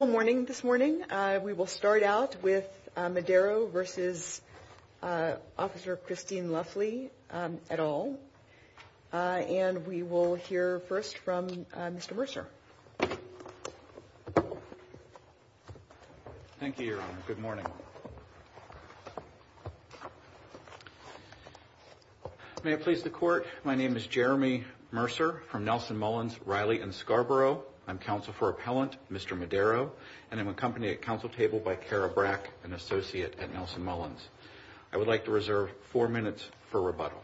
Good morning this morning. We will start out with Madero v. Officer Christine Luffley et al. And we will hear first from Mr. Mercer. Thank you, Your Honor. Good morning. May it please the Court, my name is Jeremy Mercer from Nelson Mullins, Riley & Scarborough. I'm counsel for appellant, Mr. Madero, and I'm accompanied at counsel table by Cara Brack, an associate at Nelson Mullins. I would like to reserve four minutes for rebuttal.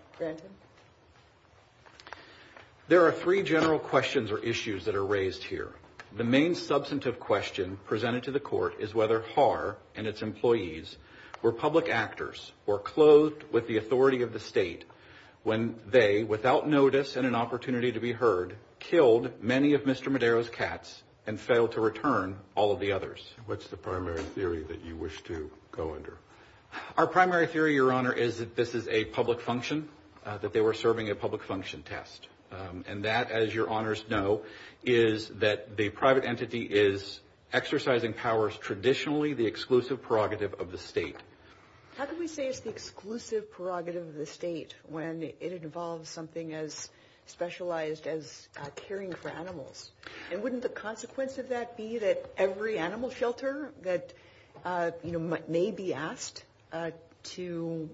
There are three general questions or issues that are raised here. The main substantive question presented to the Court is whether Haar and its employees were public actors or clothed with the authority of the state when they, without notice and an opportunity to be heard, killed many of Mr. Madero's cats and failed to return all of the others. What's the primary theory that you wish to go under? Our primary theory, Your Honor, is that this is a public function, that they were serving a public function test. And that, as Your Honors know, is that the private entity is exercising powers traditionally the exclusive prerogative of the state. How can we say it's the exclusive prerogative of the state when it involves something as specialized as caring for animals? And wouldn't the consequence of that be that every animal shelter that, you know, may be asked to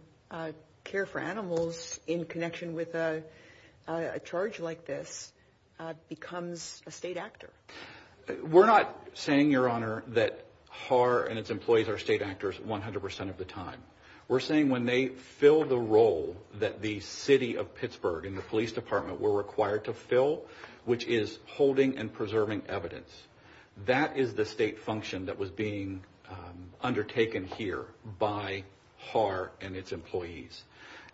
care for animals in connection with a charge like this becomes a state actor? We're not saying, Your Honor, that Haar and its employees are state actors 100% of the time. We're saying when they fill the role that the city of Pittsburgh and the police department were required to fill, which is holding and preserving evidence, that is the state function that was being undertaken here by Haar and its employees.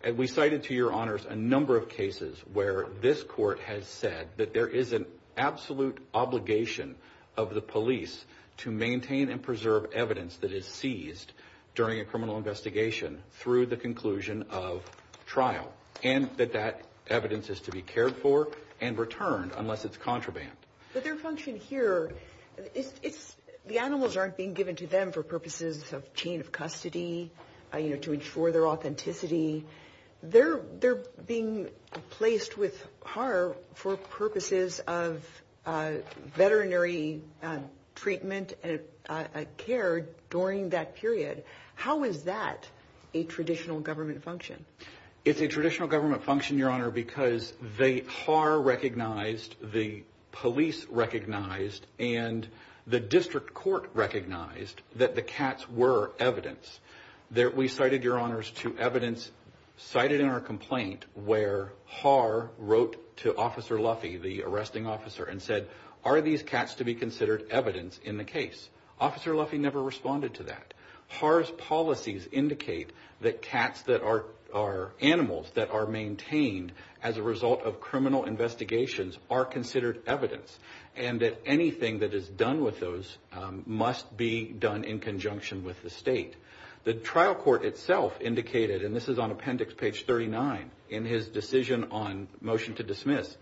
And we cited, to Your Honors, a number of cases where this court has said that there is an absolute obligation of the police to maintain and preserve evidence that is seized during a criminal investigation through the conclusion of trial. And that that evidence is to be cared for and returned unless it's contraband. But their function here, the animals aren't being given to them for purposes of chain of custody, you know, to ensure their authenticity. They're being placed with Haar for purposes of veterinary treatment and care during that period. How is that a traditional government function? It's a traditional government function, Your Honor, because Haar recognized, the police recognized, and the district court recognized that the cats were evidence. We cited, Your Honors, to evidence cited in our complaint where Haar wrote to Officer Luffy, the arresting officer, and said, are these cats to be considered evidence in the case? Officer Luffy never responded to that. Haar's policies indicate that cats that are animals that are maintained as a result of criminal investigations are considered evidence. And that anything that is done with those must be done in conjunction with the state. The trial court itself indicated, and this is on appendix page 39 in his decision on motion to dismiss,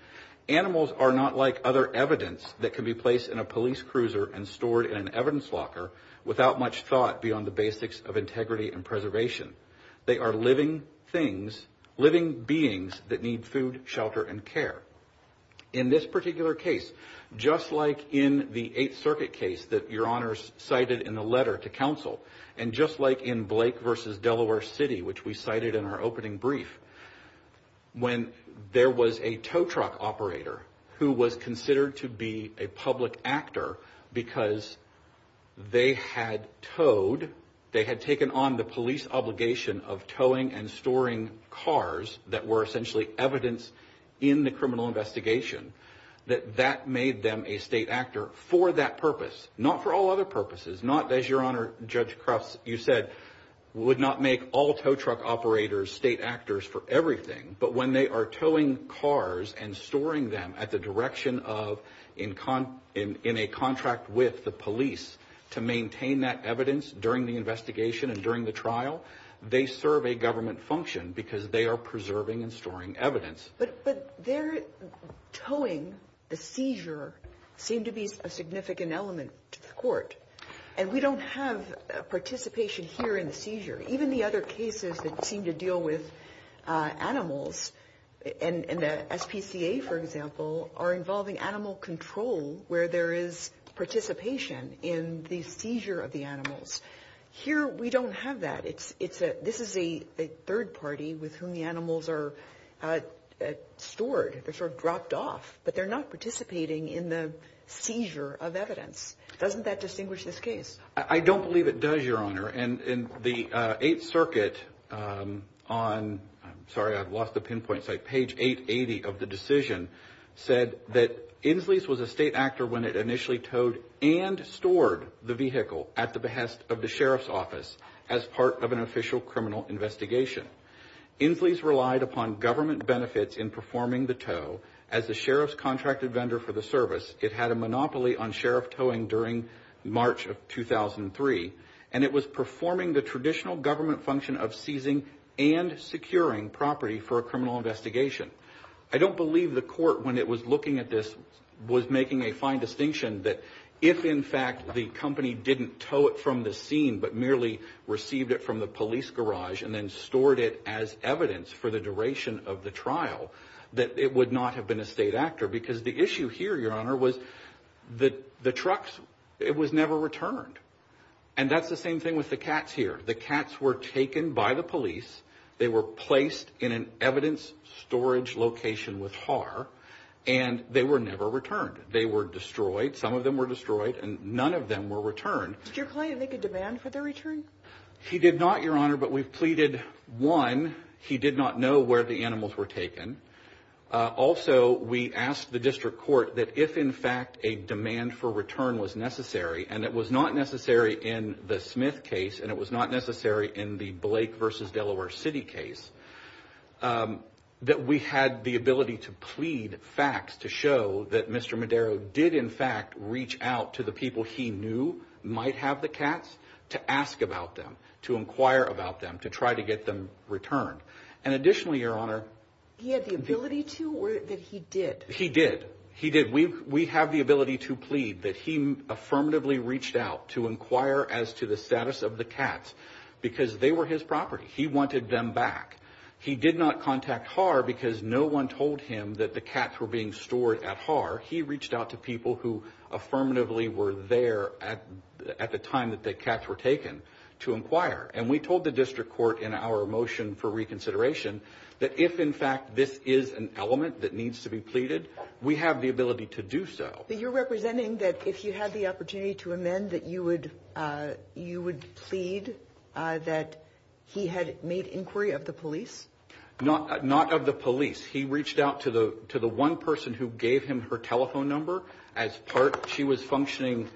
animals are not like other evidence that can be placed in a police cruiser and stored in an evidence locker without much thought beyond the basics of integrity and preservation. They are living things, living beings that need food, shelter, and care. In this particular case, just like in the Eighth Circuit case that Your Honors cited in the letter to counsel, and just like in Blake v. Delaware City, which we cited in our opening brief, when there was a tow truck operator who was considered to be a public actor because they had towed, they had taken on the police obligation of towing and storing cars that were essentially evidence in the criminal investigation, that that made them a state actor for that purpose. Not for all other purposes. Not, as Your Honor, Judge Crufts, you said, would not make all tow truck operators state actors for everything. But when they are towing cars and storing them at the direction of in a contract with the police to maintain that evidence during the investigation and during the trial, they serve a government function because they are preserving and storing evidence. But their towing, the seizure, seemed to be a significant element to the court. And we don't have participation here in the seizure. Even the other cases that seem to deal with animals, and the SPCA, for example, are involving animal control where there is participation in the seizure of the animals. Here we don't have that. This is a third party with whom the animals are stored. They're sort of dropped off. But they're not participating in the seizure of evidence. Doesn't that distinguish this case? I don't believe it does, Your Honor. And the Eighth Circuit on, sorry, I've lost the pinpoint site, page 880 of the decision, said that Inslee's was a state actor when it initially towed and stored the vehicle at the behest of the sheriff's office as part of an official criminal investigation. Inslee's relied upon government benefits in performing the tow as the sheriff's contracted vendor for the service. It had a monopoly on sheriff towing during March of 2003. And it was performing the traditional government function of seizing and securing property for a criminal investigation. I don't believe the court, when it was looking at this, was making a fine distinction that if, in fact, the company didn't tow it from the scene but merely received it from the police garage and then stored it as evidence for the duration of the trial, that it would not have been a state actor. Because the issue here, Your Honor, was the trucks, it was never returned. And that's the same thing with the cats here. The cats were taken by the police. They were placed in an evidence storage location with HAR, and they were never returned. They were destroyed. Some of them were destroyed, and none of them were returned. Did your client make a demand for their return? He did not, Your Honor, but we've pleaded, one, he did not know where the animals were taken. Also, we asked the district court that if, in fact, a demand for return was necessary, and it was not necessary in the Smith case, and it was not necessary in the Blake v. Delaware City case, that we had the ability to plead facts to show that Mr. Madero did, in fact, reach out to the people he knew might have the cats to ask about them, to inquire about them, to try to get them returned. And additionally, Your Honor, He had the ability to or that he did? He did. We have the ability to plead that he affirmatively reached out to inquire as to the status of the cats because they were his property. He wanted them back. He did not contact HAR because no one told him that the cats were being stored at HAR. He reached out to people who affirmatively were there at the time that the cats were taken to inquire, and we told the district court in our motion for reconsideration that if, in fact, this is an element that needs to be pleaded, we have the ability to do so. But you're representing that if you had the opportunity to amend that you would plead that he had made inquiry of the police? Not of the police. He reached out to the one person who gave him her telephone number as part. She was functioning.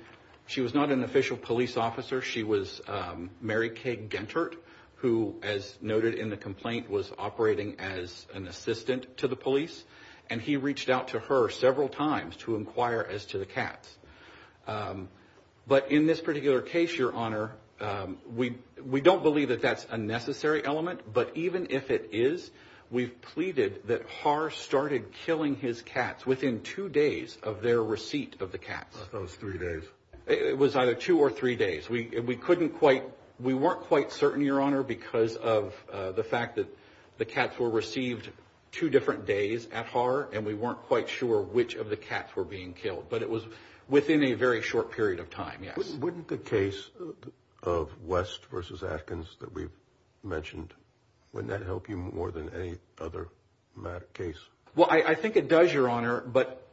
She was not an official police officer. She was Mary Kay Gentert, who, as noted in the complaint, was operating as an assistant to the police, and he reached out to her several times to inquire as to the cats. But in this particular case, Your Honor, we don't believe that that's a necessary element. But even if it is, we've pleaded that HAR started killing his cats within two days of their receipt of the cats. It was three days. It was either two or three days. We weren't quite certain, Your Honor, because of the fact that the cats were received two different days at HAR, and we weren't quite sure which of the cats were being killed. But it was within a very short period of time, yes. Wouldn't the case of West v. Atkins that we've mentioned, wouldn't that help you more than any other case? Well, I think it does, Your Honor. But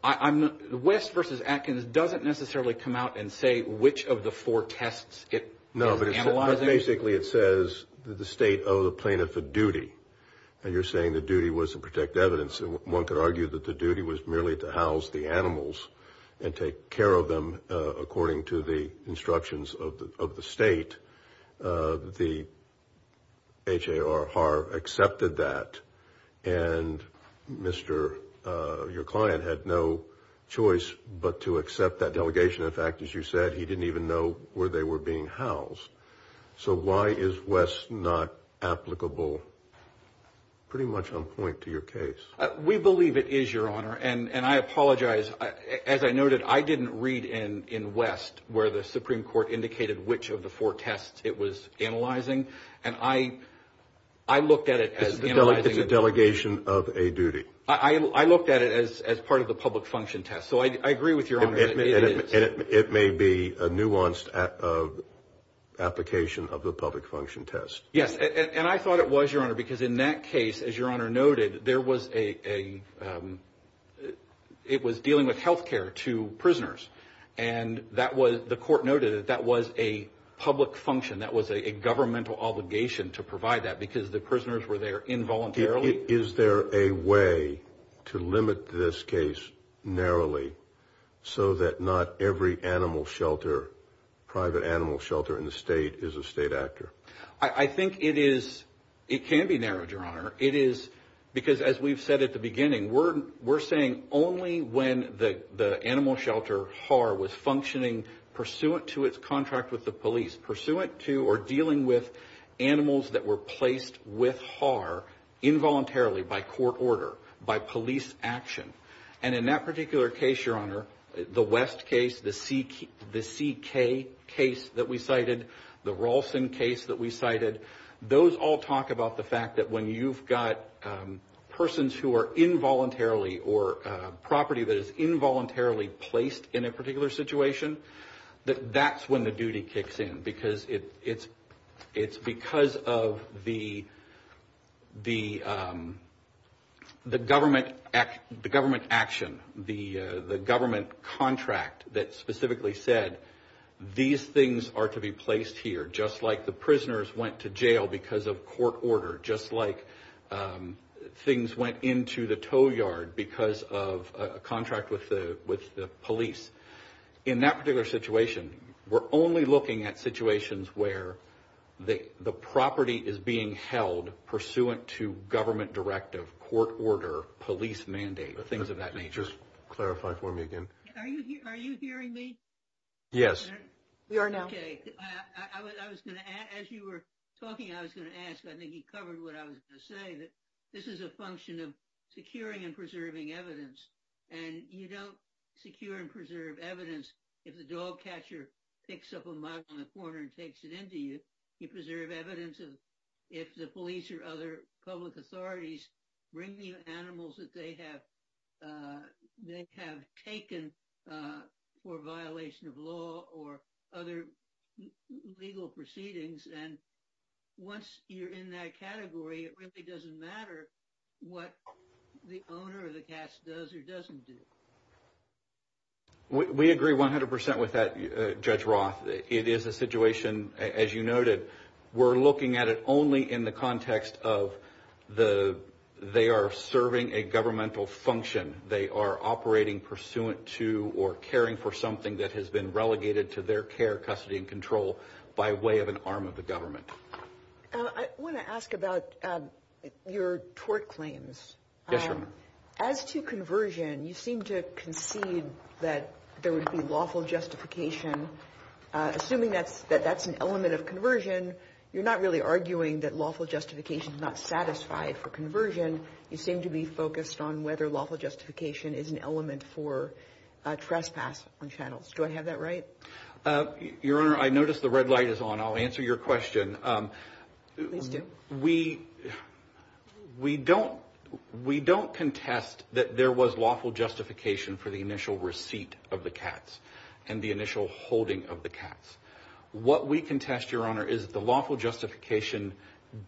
West v. Atkins doesn't necessarily come out and say which of the four tests it is analyzing. No, but basically it says that the State owed a plaintiff a duty, and you're saying the duty was to protect evidence. One could argue that the duty was merely to house the animals and take care of them according to the instructions of the State. The HAR accepted that, and your client had no choice but to accept that delegation. In fact, as you said, he didn't even know where they were being housed. So why is West not applicable pretty much on point to your case? We believe it is, Your Honor, and I apologize. As I noted, I didn't read in West where the Supreme Court indicated which of the four tests it was analyzing. And I looked at it as analyzing. It's a delegation of a duty. I looked at it as part of the public function test. So I agree with Your Honor that it is. And it may be a nuanced application of the public function test. Yes, and I thought it was, Your Honor, because in that case, as Your Honor noted, it was dealing with health care to prisoners. And the court noted that that was a public function. That was a governmental obligation to provide that because the prisoners were there involuntarily. Is there a way to limit this case narrowly so that not every animal shelter, private animal shelter in the State, is a State actor? I think it is. It can be narrowed, Your Honor. It is because, as we've said at the beginning, we're saying only when the animal shelter HAR was functioning pursuant to its contract with the police, pursuant to or dealing with animals that were placed with HAR involuntarily by court order, by police action. And in that particular case, Your Honor, the West case, the CK case that we cited, the Ralston case that we cited, those all talk about the fact that when you've got persons who are involuntarily or property that is involuntarily placed in a particular situation, that's when the duty kicks in because it's because of the government action, the government contract that specifically said, these things are to be placed here, just like the prisoners went to jail because of court order, just like things went into the tow yard because of a contract with the police. In that particular situation, we're only looking at situations where the property is being held pursuant to government directive, court order, police mandate, things of that nature. Just clarify for me again. Are you hearing me? Yes. We are now. Okay. As you were talking, I was going to ask, I think you covered what I was going to say, this is a function of securing and preserving evidence. And you don't secure and preserve evidence if the dog catcher picks up a mug on the corner and takes it into you. You preserve evidence if the police or other public authorities bring you animals that they have taken for violation of law or other legal proceedings. And once you're in that category, it really doesn't matter what the owner or the catcher does or doesn't do. We agree 100% with that, Judge Roth. It is a situation, as you noted, we're looking at it only in the context of they are serving a governmental function. They are operating pursuant to or caring for something that has been relegated to their care, custody, and control by way of an arm of the government. I want to ask about your tort claims. Yes, Your Honor. As to conversion, you seem to concede that there would be lawful justification. Assuming that that's an element of conversion, you're not really arguing that lawful justification is not satisfied for conversion. You seem to be focused on whether lawful justification is an element for trespass on channels. Do I have that right? Your Honor, I noticed the red light is on. I'll answer your question. Please do. We don't contest that there was lawful justification for the initial receipt of the cats and the initial holding of the cats. What we contest, Your Honor, is the lawful justification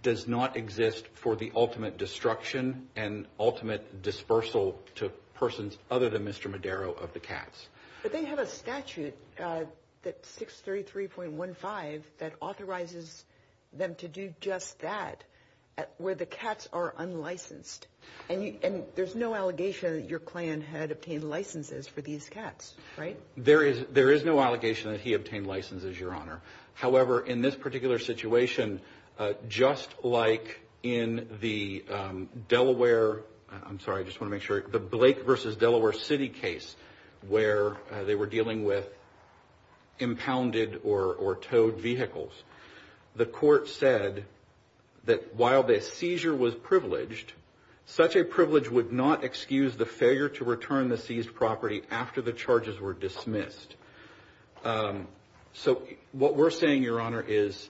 does not exist for the ultimate destruction and ultimate dispersal to persons other than Mr. Madero of the cats. But they have a statute, 633.15, that authorizes them to do just that, where the cats are unlicensed. And there's no allegation that your clan had obtained licenses for these cats, right? There is no allegation that he obtained licenses, Your Honor. However, in this particular situation, just like in the Blake v. Delaware City case where they were dealing with impounded or towed vehicles, the court said that while the seizure was privileged, such a privilege would not excuse the failure to return the seized property after the charges were dismissed. So what we're saying, Your Honor, is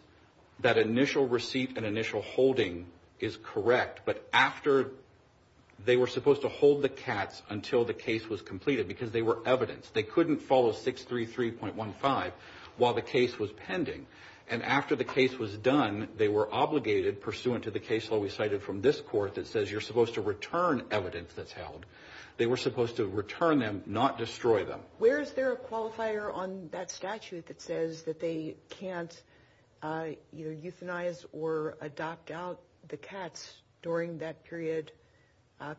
that initial receipt and initial holding is correct, but after they were supposed to hold the cats until the case was completed because they were evidence. They couldn't follow 633.15 while the case was pending. And after the case was done, they were obligated pursuant to the case law we cited from this court that says you're supposed to return evidence that's held. They were supposed to return them, not destroy them. Where is there a qualifier on that statute that says that they can't either euthanize or adopt out the cats during that period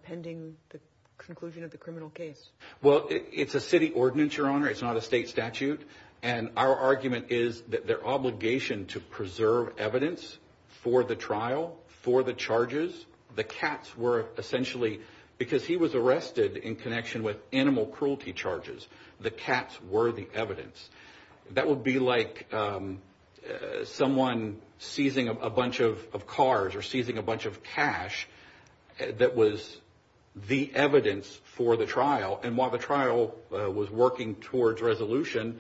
pending the conclusion of the criminal case? Well, it's a city ordinance, Your Honor. It's not a state statute. And our argument is that their obligation to preserve evidence for the trial, for the charges, the cats were essentially, because he was arrested in connection with animal cruelty charges, the cats were the evidence. That would be like someone seizing a bunch of cars or seizing a bunch of cash that was the evidence for the trial. And while the trial was working towards resolution,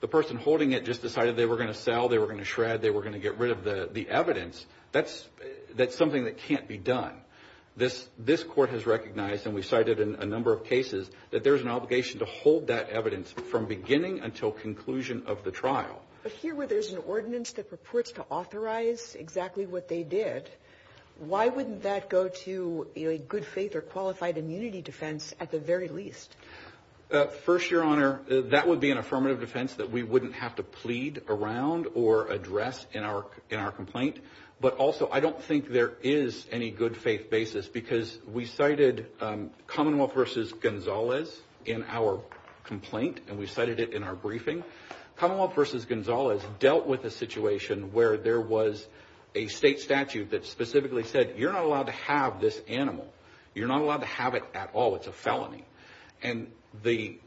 the person holding it just decided they were going to sell, they were going to shred, they were going to get rid of the evidence. That's something that can't be done. This court has recognized, and we've cited in a number of cases, that there's an obligation to hold that evidence from beginning until conclusion of the trial. But here where there's an ordinance that purports to authorize exactly what they did, why wouldn't that go to a good faith or qualified immunity defense at the very least? First, Your Honor, that would be an affirmative defense that we wouldn't have to plead around or address in our complaint. But also, I don't think there is any good faith basis, because we cited Commonwealth v. Gonzalez in our complaint, and we cited it in our briefing. Commonwealth v. Gonzalez dealt with a situation where there was a state statute that specifically said, you're not allowed to have this animal. You're not allowed to have it at all. It's a felony. And the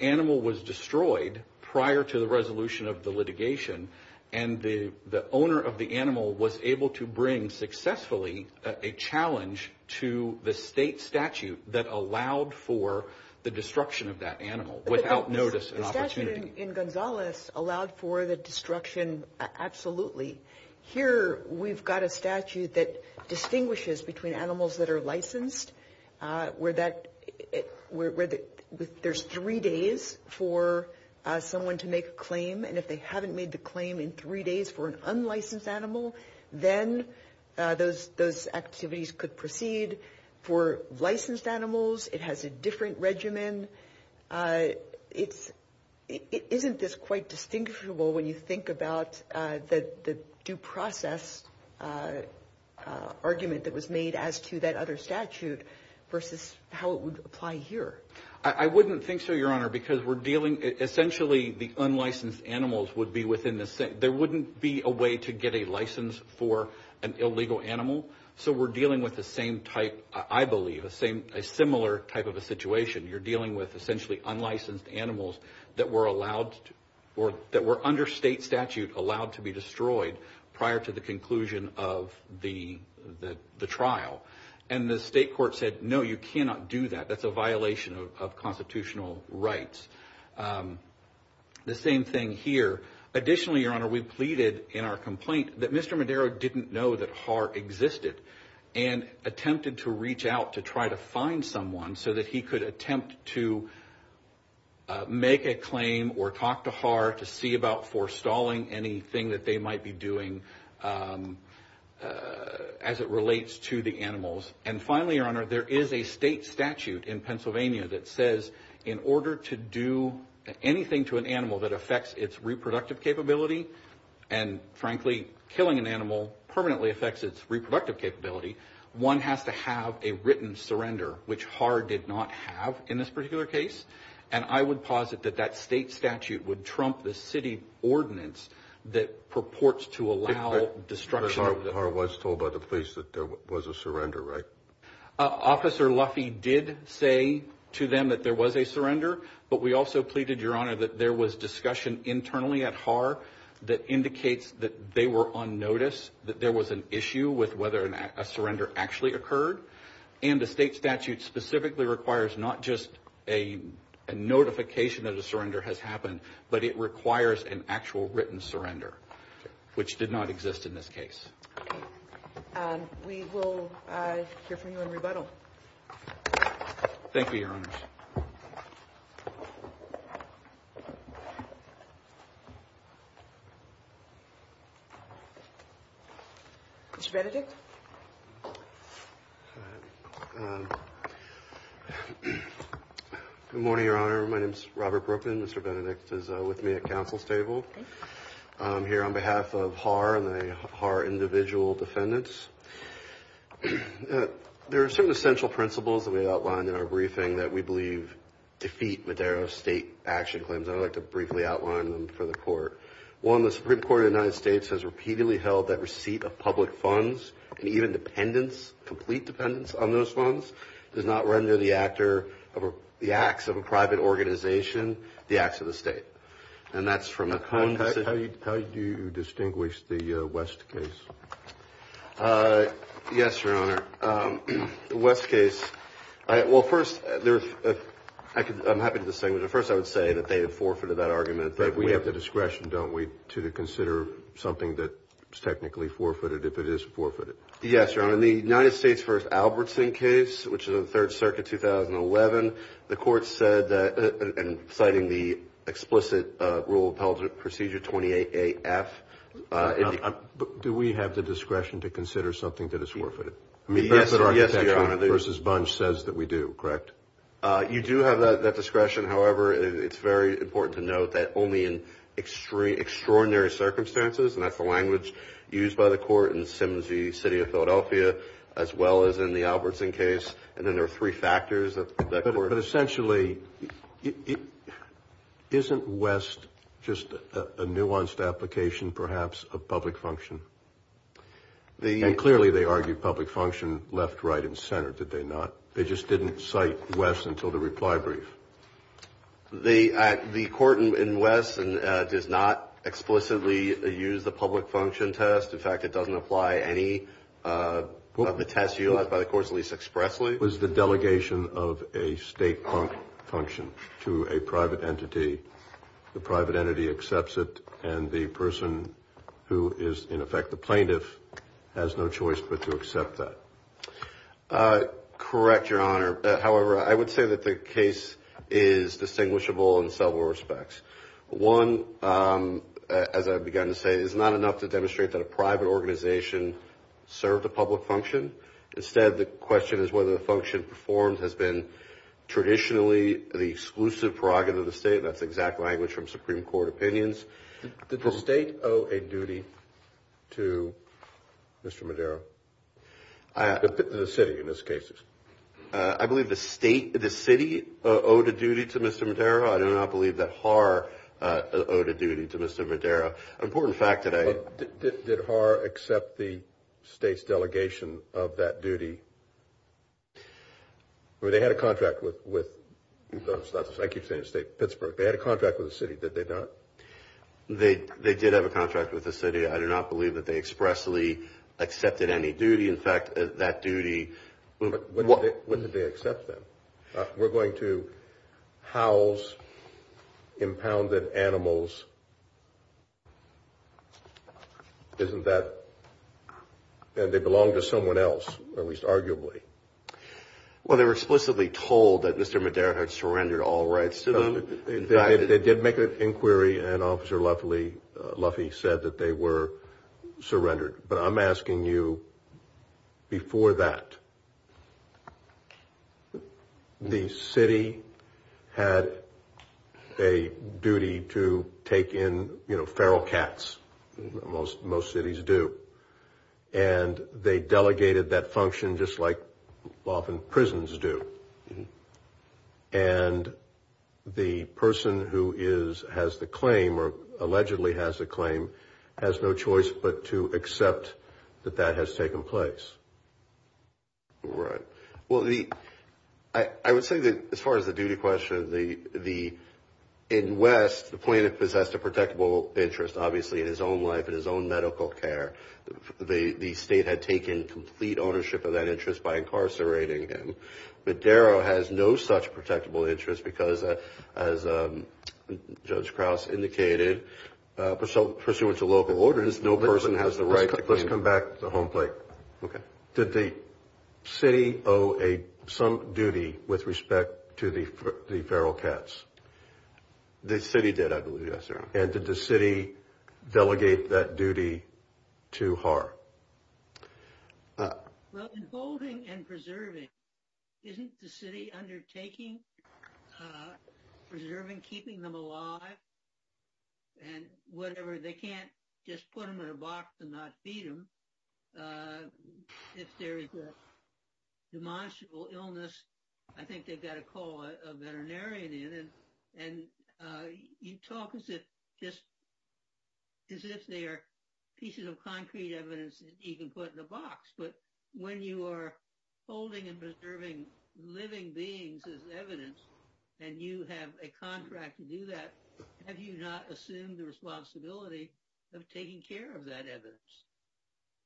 animal was destroyed prior to the resolution of the litigation, and the owner of the animal was able to bring successfully a challenge to the state statute that allowed for the destruction of that animal without notice and opportunity. The statute in Gonzalez allowed for the destruction, absolutely. Here, we've got a statute that distinguishes between animals that are licensed, where there's three days for someone to make a claim, and if they haven't made the claim in three days for an unlicensed animal, then those activities could proceed. For licensed animals, it has a different regimen. Isn't this quite distinguishable when you think about the due process argument that was made as to that other statute versus how it would apply here? I wouldn't think so, Your Honor, because we're dealing – essentially, the unlicensed animals would be within the – there wouldn't be a way to get a license for an illegal animal, so we're dealing with the same type, I believe, a similar type of a situation. You're dealing with essentially unlicensed animals that were allowed – that were under state statute allowed to be destroyed prior to the conclusion of the trial. And the state court said, no, you cannot do that. That's a violation of constitutional rights. The same thing here. Additionally, Your Honor, we pleaded in our complaint that Mr. Madero didn't know that HAR existed and attempted to reach out to try to find someone so that he could attempt to make a claim or talk to HAR to see about forestalling anything that they might be doing as it relates to the animals. And finally, Your Honor, there is a state statute in Pennsylvania that says in order to do anything to an animal that affects its reproductive capability, and frankly, killing an animal permanently affects its reproductive capability, one has to have a written surrender, which HAR did not have in this particular case. And I would posit that that state statute would trump the city ordinance that purports to allow destruction – But HAR was told by the police that there was a surrender, right? Officer Luffy did say to them that there was a surrender, but we also pleaded, Your Honor, that there was discussion internally at HAR that indicates that they were on notice, that there was an issue with whether a surrender actually occurred. And the state statute specifically requires not just a notification that a surrender has happened, but it requires an actual written surrender, which did not exist in this case. We will hear from you in rebuttal. Thank you, Your Honors. Mr. Benedict? Good morning, Your Honor. My name is Robert Brooklyn. Mr. Benedict is with me at counsel's table. I'm here on behalf of HAR and the HAR individual defendants. There are certain essential principles that we outlined in our briefing that we believe defeat Madero's state action claims. I'd like to briefly outline them for the Court. One, the Supreme Court of the United States has repeatedly held that receipt of public funds and even dependents, complete dependents on those funds, does not render the acts of a private organization the acts of the state. And that's from a contact. How do you distinguish the West case? Yes, Your Honor. The West case, well, first, I'm happy to distinguish. First, I would say that they have forfeited that argument. But we have the discretion, don't we, to consider something that is technically forfeited if it is forfeited? Yes, Your Honor. In the United States v. Albertson case, which is in the Third Circuit, 2011, the Court said that, and citing the explicit Rule of Appellate Procedure 28A.F. Do we have the discretion to consider something that is forfeited? Yes, Your Honor. I mean, that's what our contention versus Bunch says that we do, correct? You do have that discretion. However, it's very important to note that only in extraordinary circumstances, and that's the language used by the Court in Sims v. City of Philadelphia, as well as in the Albertson case. And then there are three factors that the Court. But essentially, isn't West just a nuanced application, perhaps, of public function? And clearly they argued public function left, right, and center, did they not? They just didn't cite West until the reply brief. The Court in West does not explicitly use the public function test. In fact, it doesn't apply any of the tests utilized by the courts, at least expressly. It was the delegation of a state function to a private entity. The private entity accepts it, and the person who is, in effect, the plaintiff, has no choice but to accept that. Correct, Your Honor. However, I would say that the case is distinguishable in several respects. One, as I've begun to say, is not enough to demonstrate that a private organization served a public function. Instead, the question is whether the function performed has been traditionally the exclusive prerogative of the state. That's the exact language from Supreme Court opinions. Did the state owe a duty to Mr. Madero, the city in this case? I believe the state, the city, owed a duty to Mr. Madero. I do not believe that Haar owed a duty to Mr. Madero. An important fact today. Did Haar accept the state's delegation of that duty? I mean, they had a contract with, I keep saying the state, Pittsburgh. They had a contract with the city, did they not? They did have a contract with the city. I do not believe that they expressly accepted any duty. In fact, that duty. When did they accept them? We're going to house impounded animals. Isn't that? They belong to someone else, at least arguably. Well, they were explicitly told that Mr. Madero had surrendered all rights to them. They did make an inquiry, and Officer Luffey said that they were surrendered. But I'm asking you, before that, the city had a duty to take in, you know, feral cats. Most cities do. And they delegated that function just like often prisons do. And the person who has the claim, or allegedly has the claim, has no choice but to accept that that has taken place. Right. Well, I would say that as far as the duty question, in West, the plaintiff possessed a protectable interest, obviously, in his own life, in his own medical care. The state had taken complete ownership of that interest by incarcerating him. And Mr. Madero has no such protectable interest because, as Judge Krause indicated, pursuant to local ordinance, no person has the right to claim it. Let's come back to the home plate. Okay. Did the city owe some duty with respect to the feral cats? The city did, I believe. Yes, Your Honor. And did the city delegate that duty to her? Well, in holding and preserving, isn't the city undertaking preserving, keeping them alive, and whatever? They can't just put them in a box and not feed them. If there is a demonstrable illness, I think they've got to call a veterinarian in. And you talk as if they are pieces of concrete evidence that you can put in a box. But when you are holding and preserving living beings as evidence and you have a contract to do that, have you not assumed the responsibility of taking care of that evidence?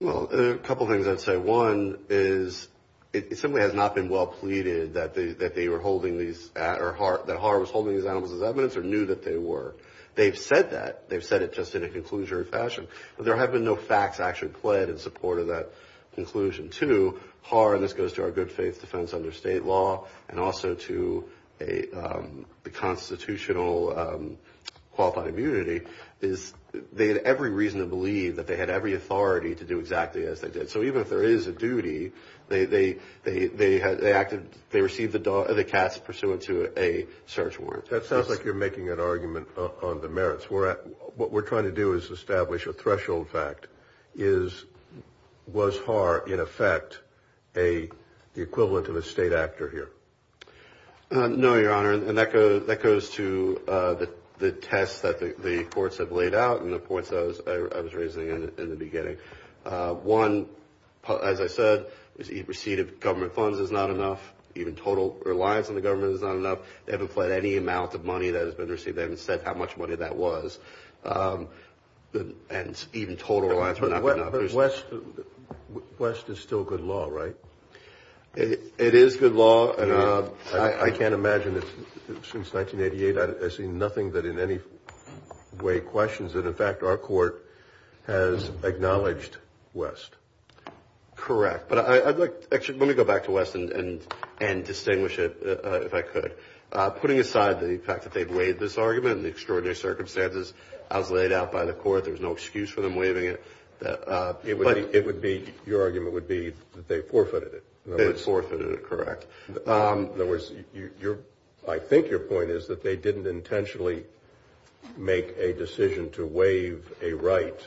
Well, there are a couple of things I'd say. One is it simply has not been well pleaded that they were holding these at or that HAR was holding these animals as evidence or knew that they were. They've said that. They've said it just in a conclusionary fashion. There have been no facts actually pled in support of that conclusion. Two, HAR, and this goes to our good faith defense under state law and also to the constitutional qualified immunity, is they had every reason to believe that they had every authority to do exactly as they did. So even if there is a duty, they received the cats pursuant to a search warrant. That sounds like you're making an argument on the merits. What we're trying to do is establish a threshold fact. Was HAR, in effect, the equivalent of a state actor here? No, Your Honor. And that goes to the test that the courts have laid out and the points I was raising in the beginning. One, as I said, is receipt of government funds is not enough. Even total reliance on the government is not enough. They haven't pled any amount of money that has been received. They haven't said how much money that was. And even total reliance would not be enough. But West is still good law, right? It is good law. I can't imagine, since 1988, I see nothing that in any way questions that, in fact, our court has acknowledged West. Correct. But I'd like to actually go back to West and distinguish it, if I could. Putting aside the fact that they've waived this argument and the extraordinary circumstances as laid out by the court, there's no excuse for them waiving it. But it would be, your argument would be that they forfeited it. They forfeited it, correct. In other words, I think your point is that they didn't intentionally make a decision to waive a right.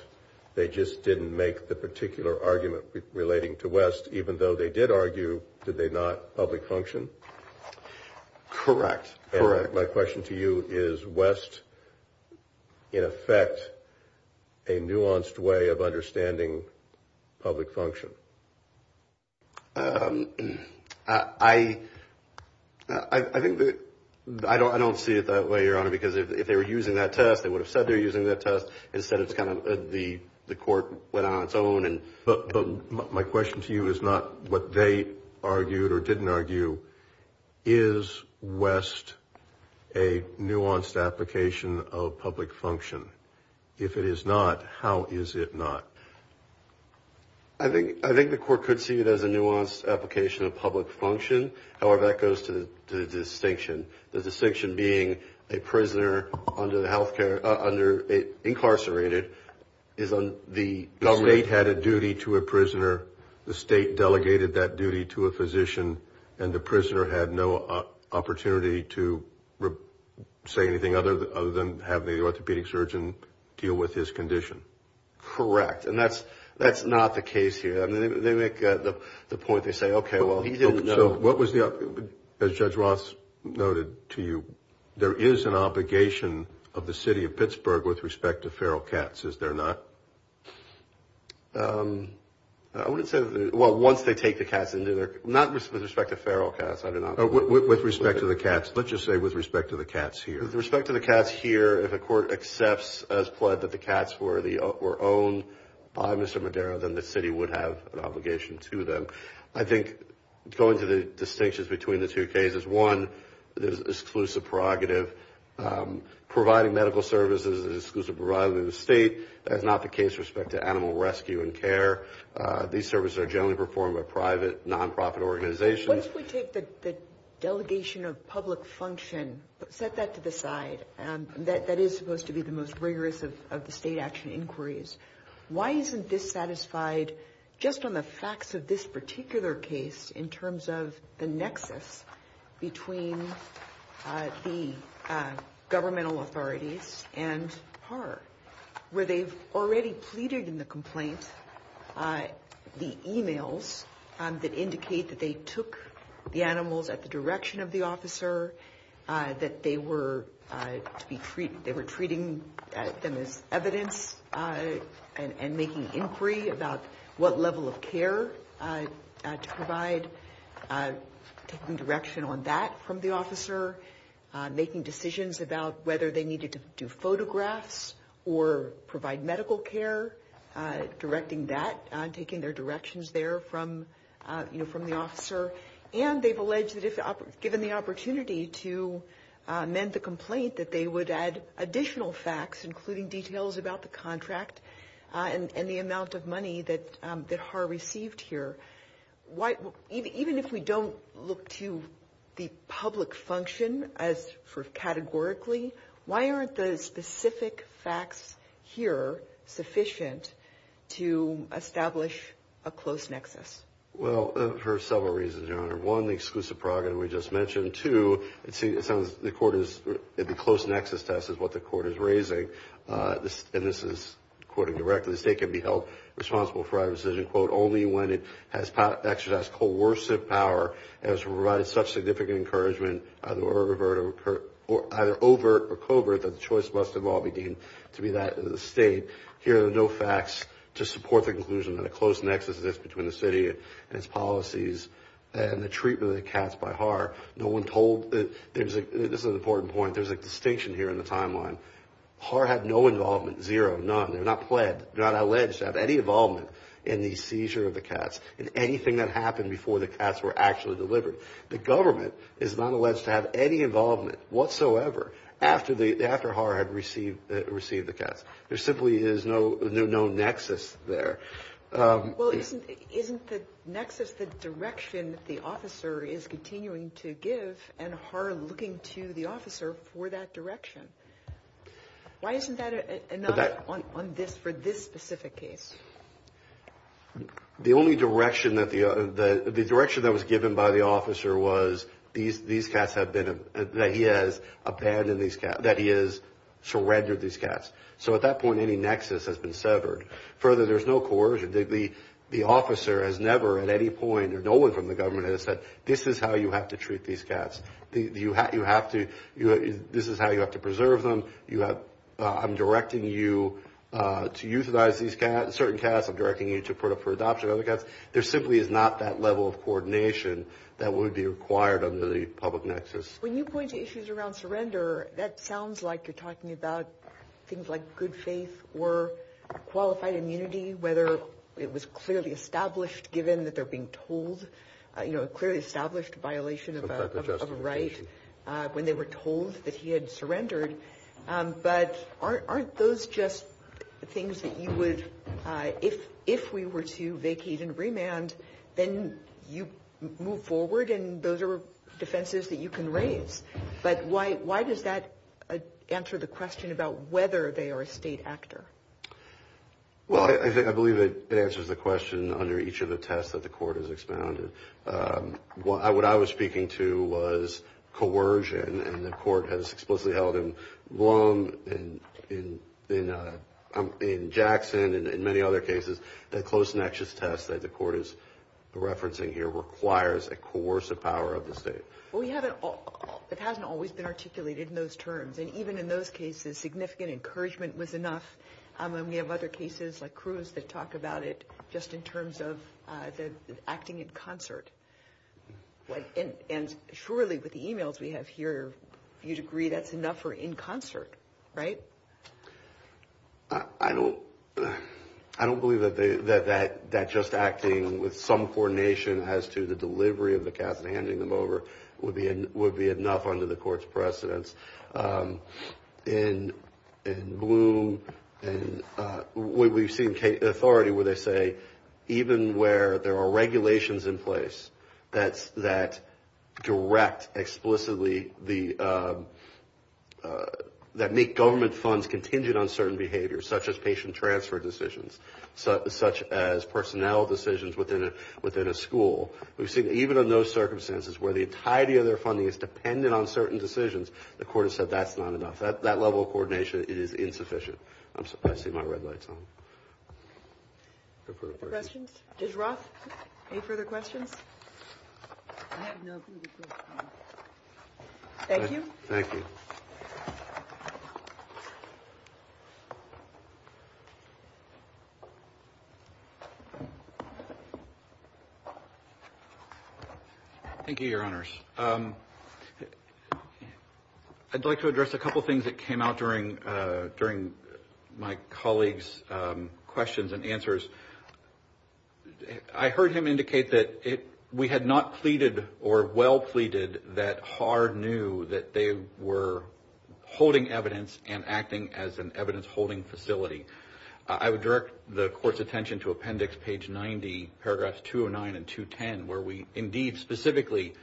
They just didn't make the particular argument relating to West, even though they did argue, did they not, public function? Correct, correct. My question to you is, is West, in effect, a nuanced way of understanding public function? I don't see it that way, Your Honor, because if they were using that test, they would have said they were using that test. Instead, it's kind of the court went on its own. But my question to you is not what they argued or didn't argue. Is West a nuanced application of public function? If it is not, how is it not? I think the court could see it as a nuanced application of public function. However, that goes to the distinction. The distinction being a prisoner under the health care, under incarcerated is on the government. The state had a duty to a prisoner. The state delegated that duty to a physician. And the prisoner had no opportunity to say anything other than have the orthopedic surgeon deal with his condition. Correct. And that's not the case here. They make the point, they say, okay, well, he didn't know. So what was the – as Judge Ross noted to you, there is an obligation of the city of Pittsburgh with respect to feral cats, is there not? I wouldn't say – well, once they take the cats into their – not with respect to feral cats. I do not – With respect to the cats. Let's just say with respect to the cats here. With respect to the cats here, if a court accepts as pled that the cats were owned by Mr. Madero, then the city would have an obligation to them. But I think going to the distinctions between the two cases, one, there's an exclusive prerogative. Providing medical services is an exclusive prerogative of the state. That's not the case with respect to animal rescue and care. These services are generally performed by private, nonprofit organizations. What if we take the delegation of public function, set that to the side? That is supposed to be the most rigorous of the state action inquiries. Why isn't this satisfied just on the facts of this particular case in terms of the nexus between the governmental authorities and PAR, where they've already pleaded in the complaint the emails that indicate that they took the animals at the direction of the officer, that they were treating them as evidence and making inquiry about what level of care to provide, taking direction on that from the officer, making decisions about whether they needed to do photographs or provide medical care, directing that, taking their directions there from the officer. And they've alleged that if given the opportunity to amend the complaint that they would add additional facts, including details about the contract and the amount of money that HAR received here. Even if we don't look to the public function categorically, why aren't the specific facts here sufficient to establish a close nexus? Well, for several reasons, Your Honor. One, the exclusive program we just mentioned. Two, it sounds the court is, the close nexus test is what the court is raising. And this is quoting directly, the state can be held responsible for a decision, quote, only when it has exercised coercive power and has provided such significant encouragement, either overt or covert, that the choice must in law be deemed to be that of the state. Here are no facts to support the conclusion that a close nexus exists between the city and its policies and the treatment of the cats by HAR. No one told, this is an important point, there's a distinction here in the timeline. HAR had no involvement, zero, none. They're not pled, they're not alleged to have any involvement in the seizure of the cats, in anything that happened before the cats were actually delivered. The government is not alleged to have any involvement whatsoever after HAR had received the cats. There simply is no nexus there. Well, isn't the nexus the direction the officer is continuing to give and HAR looking to the officer for that direction? Why isn't that enough for this specific case? The only direction that the, the direction that was given by the officer was these cats have been, that he has abandoned these cats, that he has surrendered these cats. So at that point, any nexus has been severed. Further, there's no coercion. The officer has never at any point or no one from the government has said, this is how you have to treat these cats. You have to, this is how you have to preserve them. You have, I'm directing you to euthanize these cats, certain cats. I'm directing you to put up for adoption other cats. There simply is not that level of coordination that would be required under the public nexus. When you point to issues around surrender, that sounds like you're talking about things like good faith or qualified immunity, whether it was clearly established given that they're being told, you know, clearly established violation of a right when they were told that he had surrendered. But aren't those just things that you would, if we were to vacate and remand, then you move forward and those are defenses that you can raise. But why does that answer the question about whether they are a state actor? Well, I believe it answers the question under each of the tests that the court has expounded. What I was speaking to was coercion, and the court has explicitly held in Blum, in Jackson, and in many other cases that close nexus test that the court is referencing here requires a coercive power of the state. Well, it hasn't always been articulated in those terms, and even in those cases significant encouragement was enough. We have other cases like Cruz that talk about it just in terms of acting in concert. And surely with the emails we have here, you'd agree that's enough for in concert, right? I don't believe that just acting with some coordination as to the delivery of the cast and handing them over would be enough under the court's precedence. In Blum, we've seen authority where they say even where there are regulations in place that make government funds contingent on certain behaviors, such as patient transfer decisions, such as personnel decisions within a school, we've seen even in those circumstances where the entirety of their funding is dependent on certain decisions, the court has said that's not enough. That level of coordination is insufficient. I see my red lights on. Questions? Judge Roth, any further questions? I have no further questions. Thank you. Thank you. Thank you, Your Honors. I'd like to address a couple things that came out during my colleague's questions and answers. I heard him indicate that we had not pleaded or well pleaded that HAAR knew that they were holding evidence and acting as an evidence-holding facility. I would direct the court's attention to appendix page 90, paragraphs 209 and 210, where we indeed specifically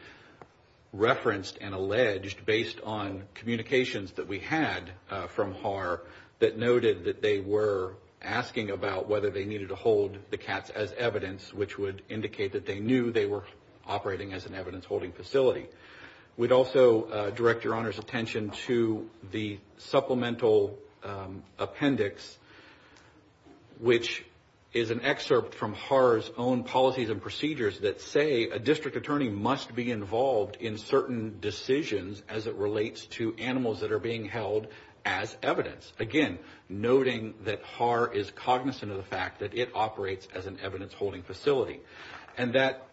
referenced and alleged, based on communications that we had from HAAR, that noted that they were asking about whether they needed to hold the cats as evidence, which would indicate that they knew they were operating as an evidence-holding facility. We'd also direct Your Honor's attention to the supplemental appendix, which is an excerpt from HAAR's own policies and procedures that say a district attorney must be involved in certain decisions as it relates to animals that are being held as evidence. Again, noting that HAAR is cognizant of the fact that it operates as an evidence-holding facility. And that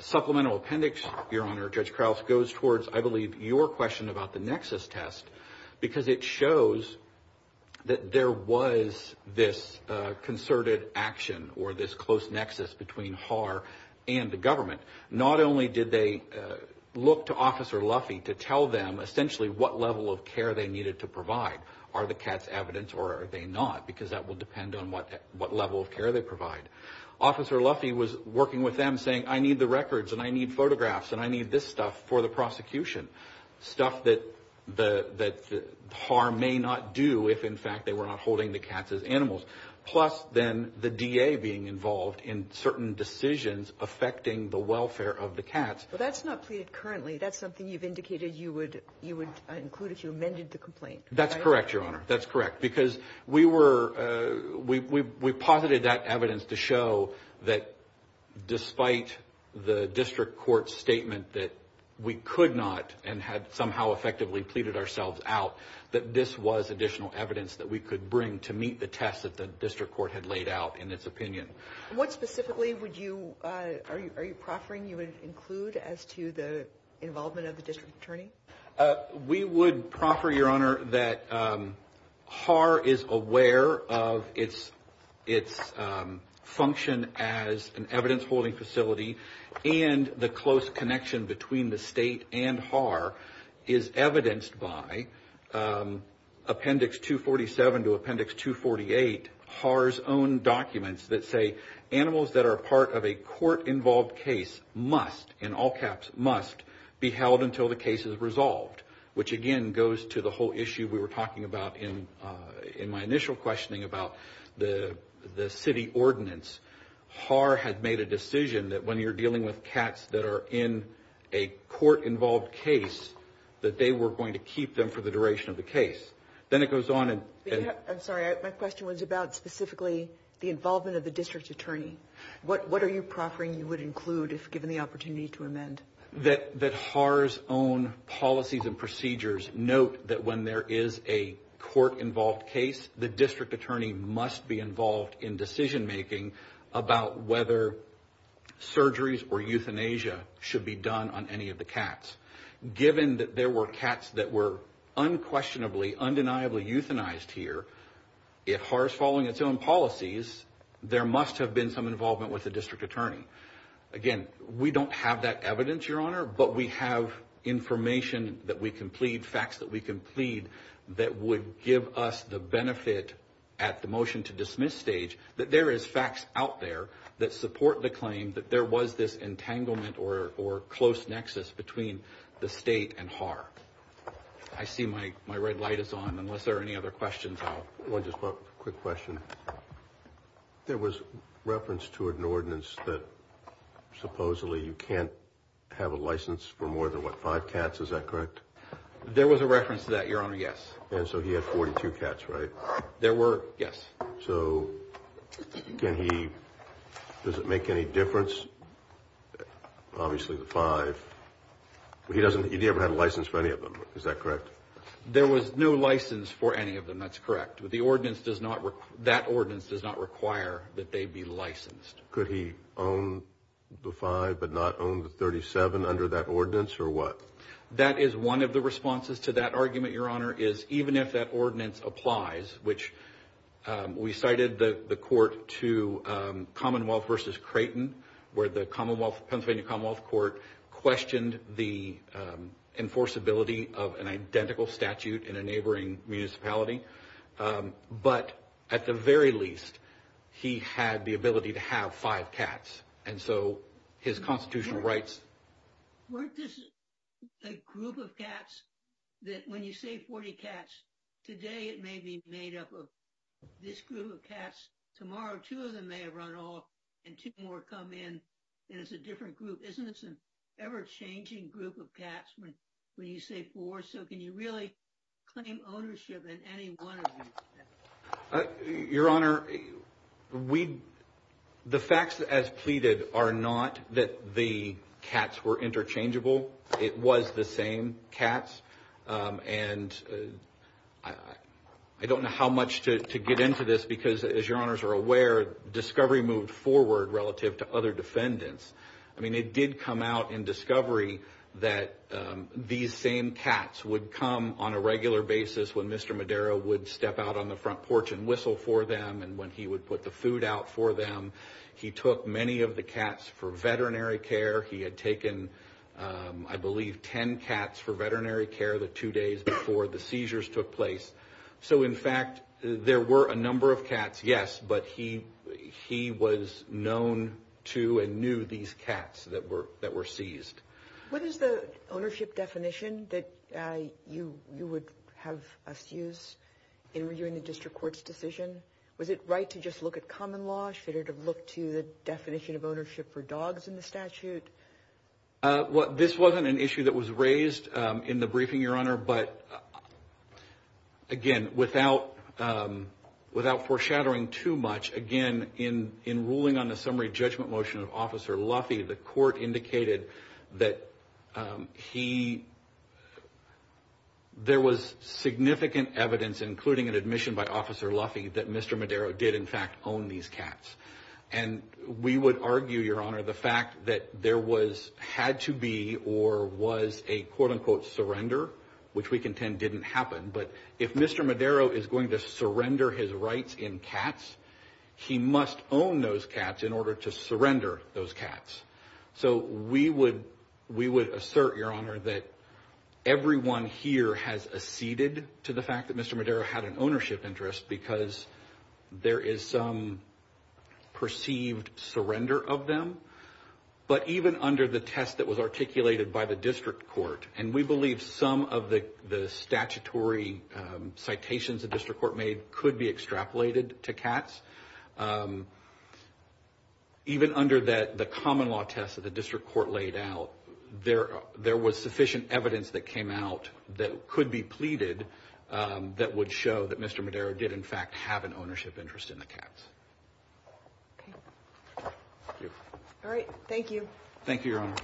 supplemental appendix, Your Honor, Judge Krauss, goes towards, I believe, your question about the nexus test, because it shows that there was this concerted action or this close nexus between HAAR and the government. Not only did they look to Officer Luffy to tell them essentially what level of care they needed to provide, are the cats evidence or are they not, because that will depend on what level of care they provide. Officer Luffy was working with them, saying, I need the records and I need photographs and I need this stuff for the prosecution. Stuff that HAAR may not do if, in fact, they were not holding the cats as animals. Plus, then, the DA being involved in certain decisions affecting the welfare of the cats. But that's not pleaded currently. That's something you've indicated you would include if you amended the complaint. That's correct, Your Honor. That's correct, because we posited that evidence to show that despite the district court's statement that we could not and had somehow effectively pleaded ourselves out, that this was additional evidence that we could bring to meet the test that the district court had laid out in its opinion. What specifically are you proffering you would include as to the involvement of the district attorney? We would proffer, Your Honor, that HAAR is aware of its function as an evidence-holding facility and the close connection between the state and HAAR is evidenced by Appendix 247 to Appendix 248, HAAR's own documents that say animals that are part of a court-involved case must, in all caps, must be held until the case is resolved, which, again, goes to the whole issue we were talking about in my initial questioning about the city ordinance. HAAR had made a decision that when you're dealing with cats that are in a court-involved case, that they were going to keep them for the duration of the case. Then it goes on. I'm sorry. My question was about specifically the involvement of the district attorney. What are you proffering you would include if given the opportunity to amend? That HAAR's own policies and procedures note that when there is a court-involved case, the district attorney must be involved in decision-making about whether surgeries or euthanasia should be done on any of the cats. Given that there were cats that were unquestionably, undeniably euthanized here, if HAAR is following its own policies, there must have been some involvement with the district attorney. Again, we don't have that evidence, Your Honor, but we have information that we can plead, facts that we can plead that would give us the benefit at the motion-to-dismiss stage that there is facts out there that support the claim that there was this entanglement or close nexus between the state and HAAR. I see my red light is on unless there are any other questions. One quick question. There was reference to an ordinance that supposedly you can't have a license for more than five cats. Is that correct? There was a reference to that, Your Honor, yes. And so he had 42 cats, right? There were, yes. So does it make any difference? Obviously the five. He doesn't, he never had a license for any of them. Is that correct? There was no license for any of them. That's correct. The ordinance does not, that ordinance does not require that they be licensed. Could he own the five but not own the 37 under that ordinance or what? That is one of the responses to that argument, Your Honor, is even if that ordinance applies, which we cited the court to Commonwealth versus Creighton where the Pennsylvania Commonwealth Court questioned the enforceability of an identical statute in a neighboring municipality. But at the very least, he had the ability to have five cats. And so his constitutional rights. Weren't this a group of cats that when you say 40 cats, today it may be made up of this group of cats. Tomorrow two of them may have run off and two more come in and it's a different group. Isn't this an ever-changing group of cats when you say four? So can you really claim ownership in any one of them? Your Honor, the facts as pleaded are not that the cats were interchangeable. It was the same cats. And I don't know how much to get into this because, as Your Honors are aware, discovery moved forward relative to other defendants. I mean, it did come out in discovery that these same cats would come on a regular basis when Mr. Madera would step out on the front porch and whistle for them and when he would put the food out for them. He took many of the cats for veterinary care. He had taken, I believe, 10 cats for veterinary care the two days before the seizures took place. So, in fact, there were a number of cats, yes, but he was known to and knew these cats that were seized. What is the ownership definition that you would have us use in reviewing the district court's decision? Was it right to just look at common law? Should it have looked to the definition of ownership for dogs in the statute? Well, this wasn't an issue that was raised in the briefing, Your Honor. But, again, without foreshadowing too much, again, in ruling on the summary judgment motion of Officer Luffy, the court indicated that there was significant evidence, including an admission by Officer Luffy, that Mr. Madera did, in fact, own these cats. And we would argue, Your Honor, the fact that there had to be or was a, quote-unquote, surrender, which we contend didn't happen. But if Mr. Madera is going to surrender his rights in cats, he must own those cats in order to surrender those cats. So we would assert, Your Honor, that everyone here has acceded to the fact that Mr. Madera had an ownership interest because there is some perceived surrender of them. But even under the test that was articulated by the district court, and we believe some of the statutory citations the district court made could be extrapolated to cats, even under the common law test that the district court laid out, there was sufficient evidence that came out that could be pleaded that would show that Mr. Madera did, in fact, have an ownership interest in the cats. Okay. Thank you. All right. Thank you. Thank you, Your Honor.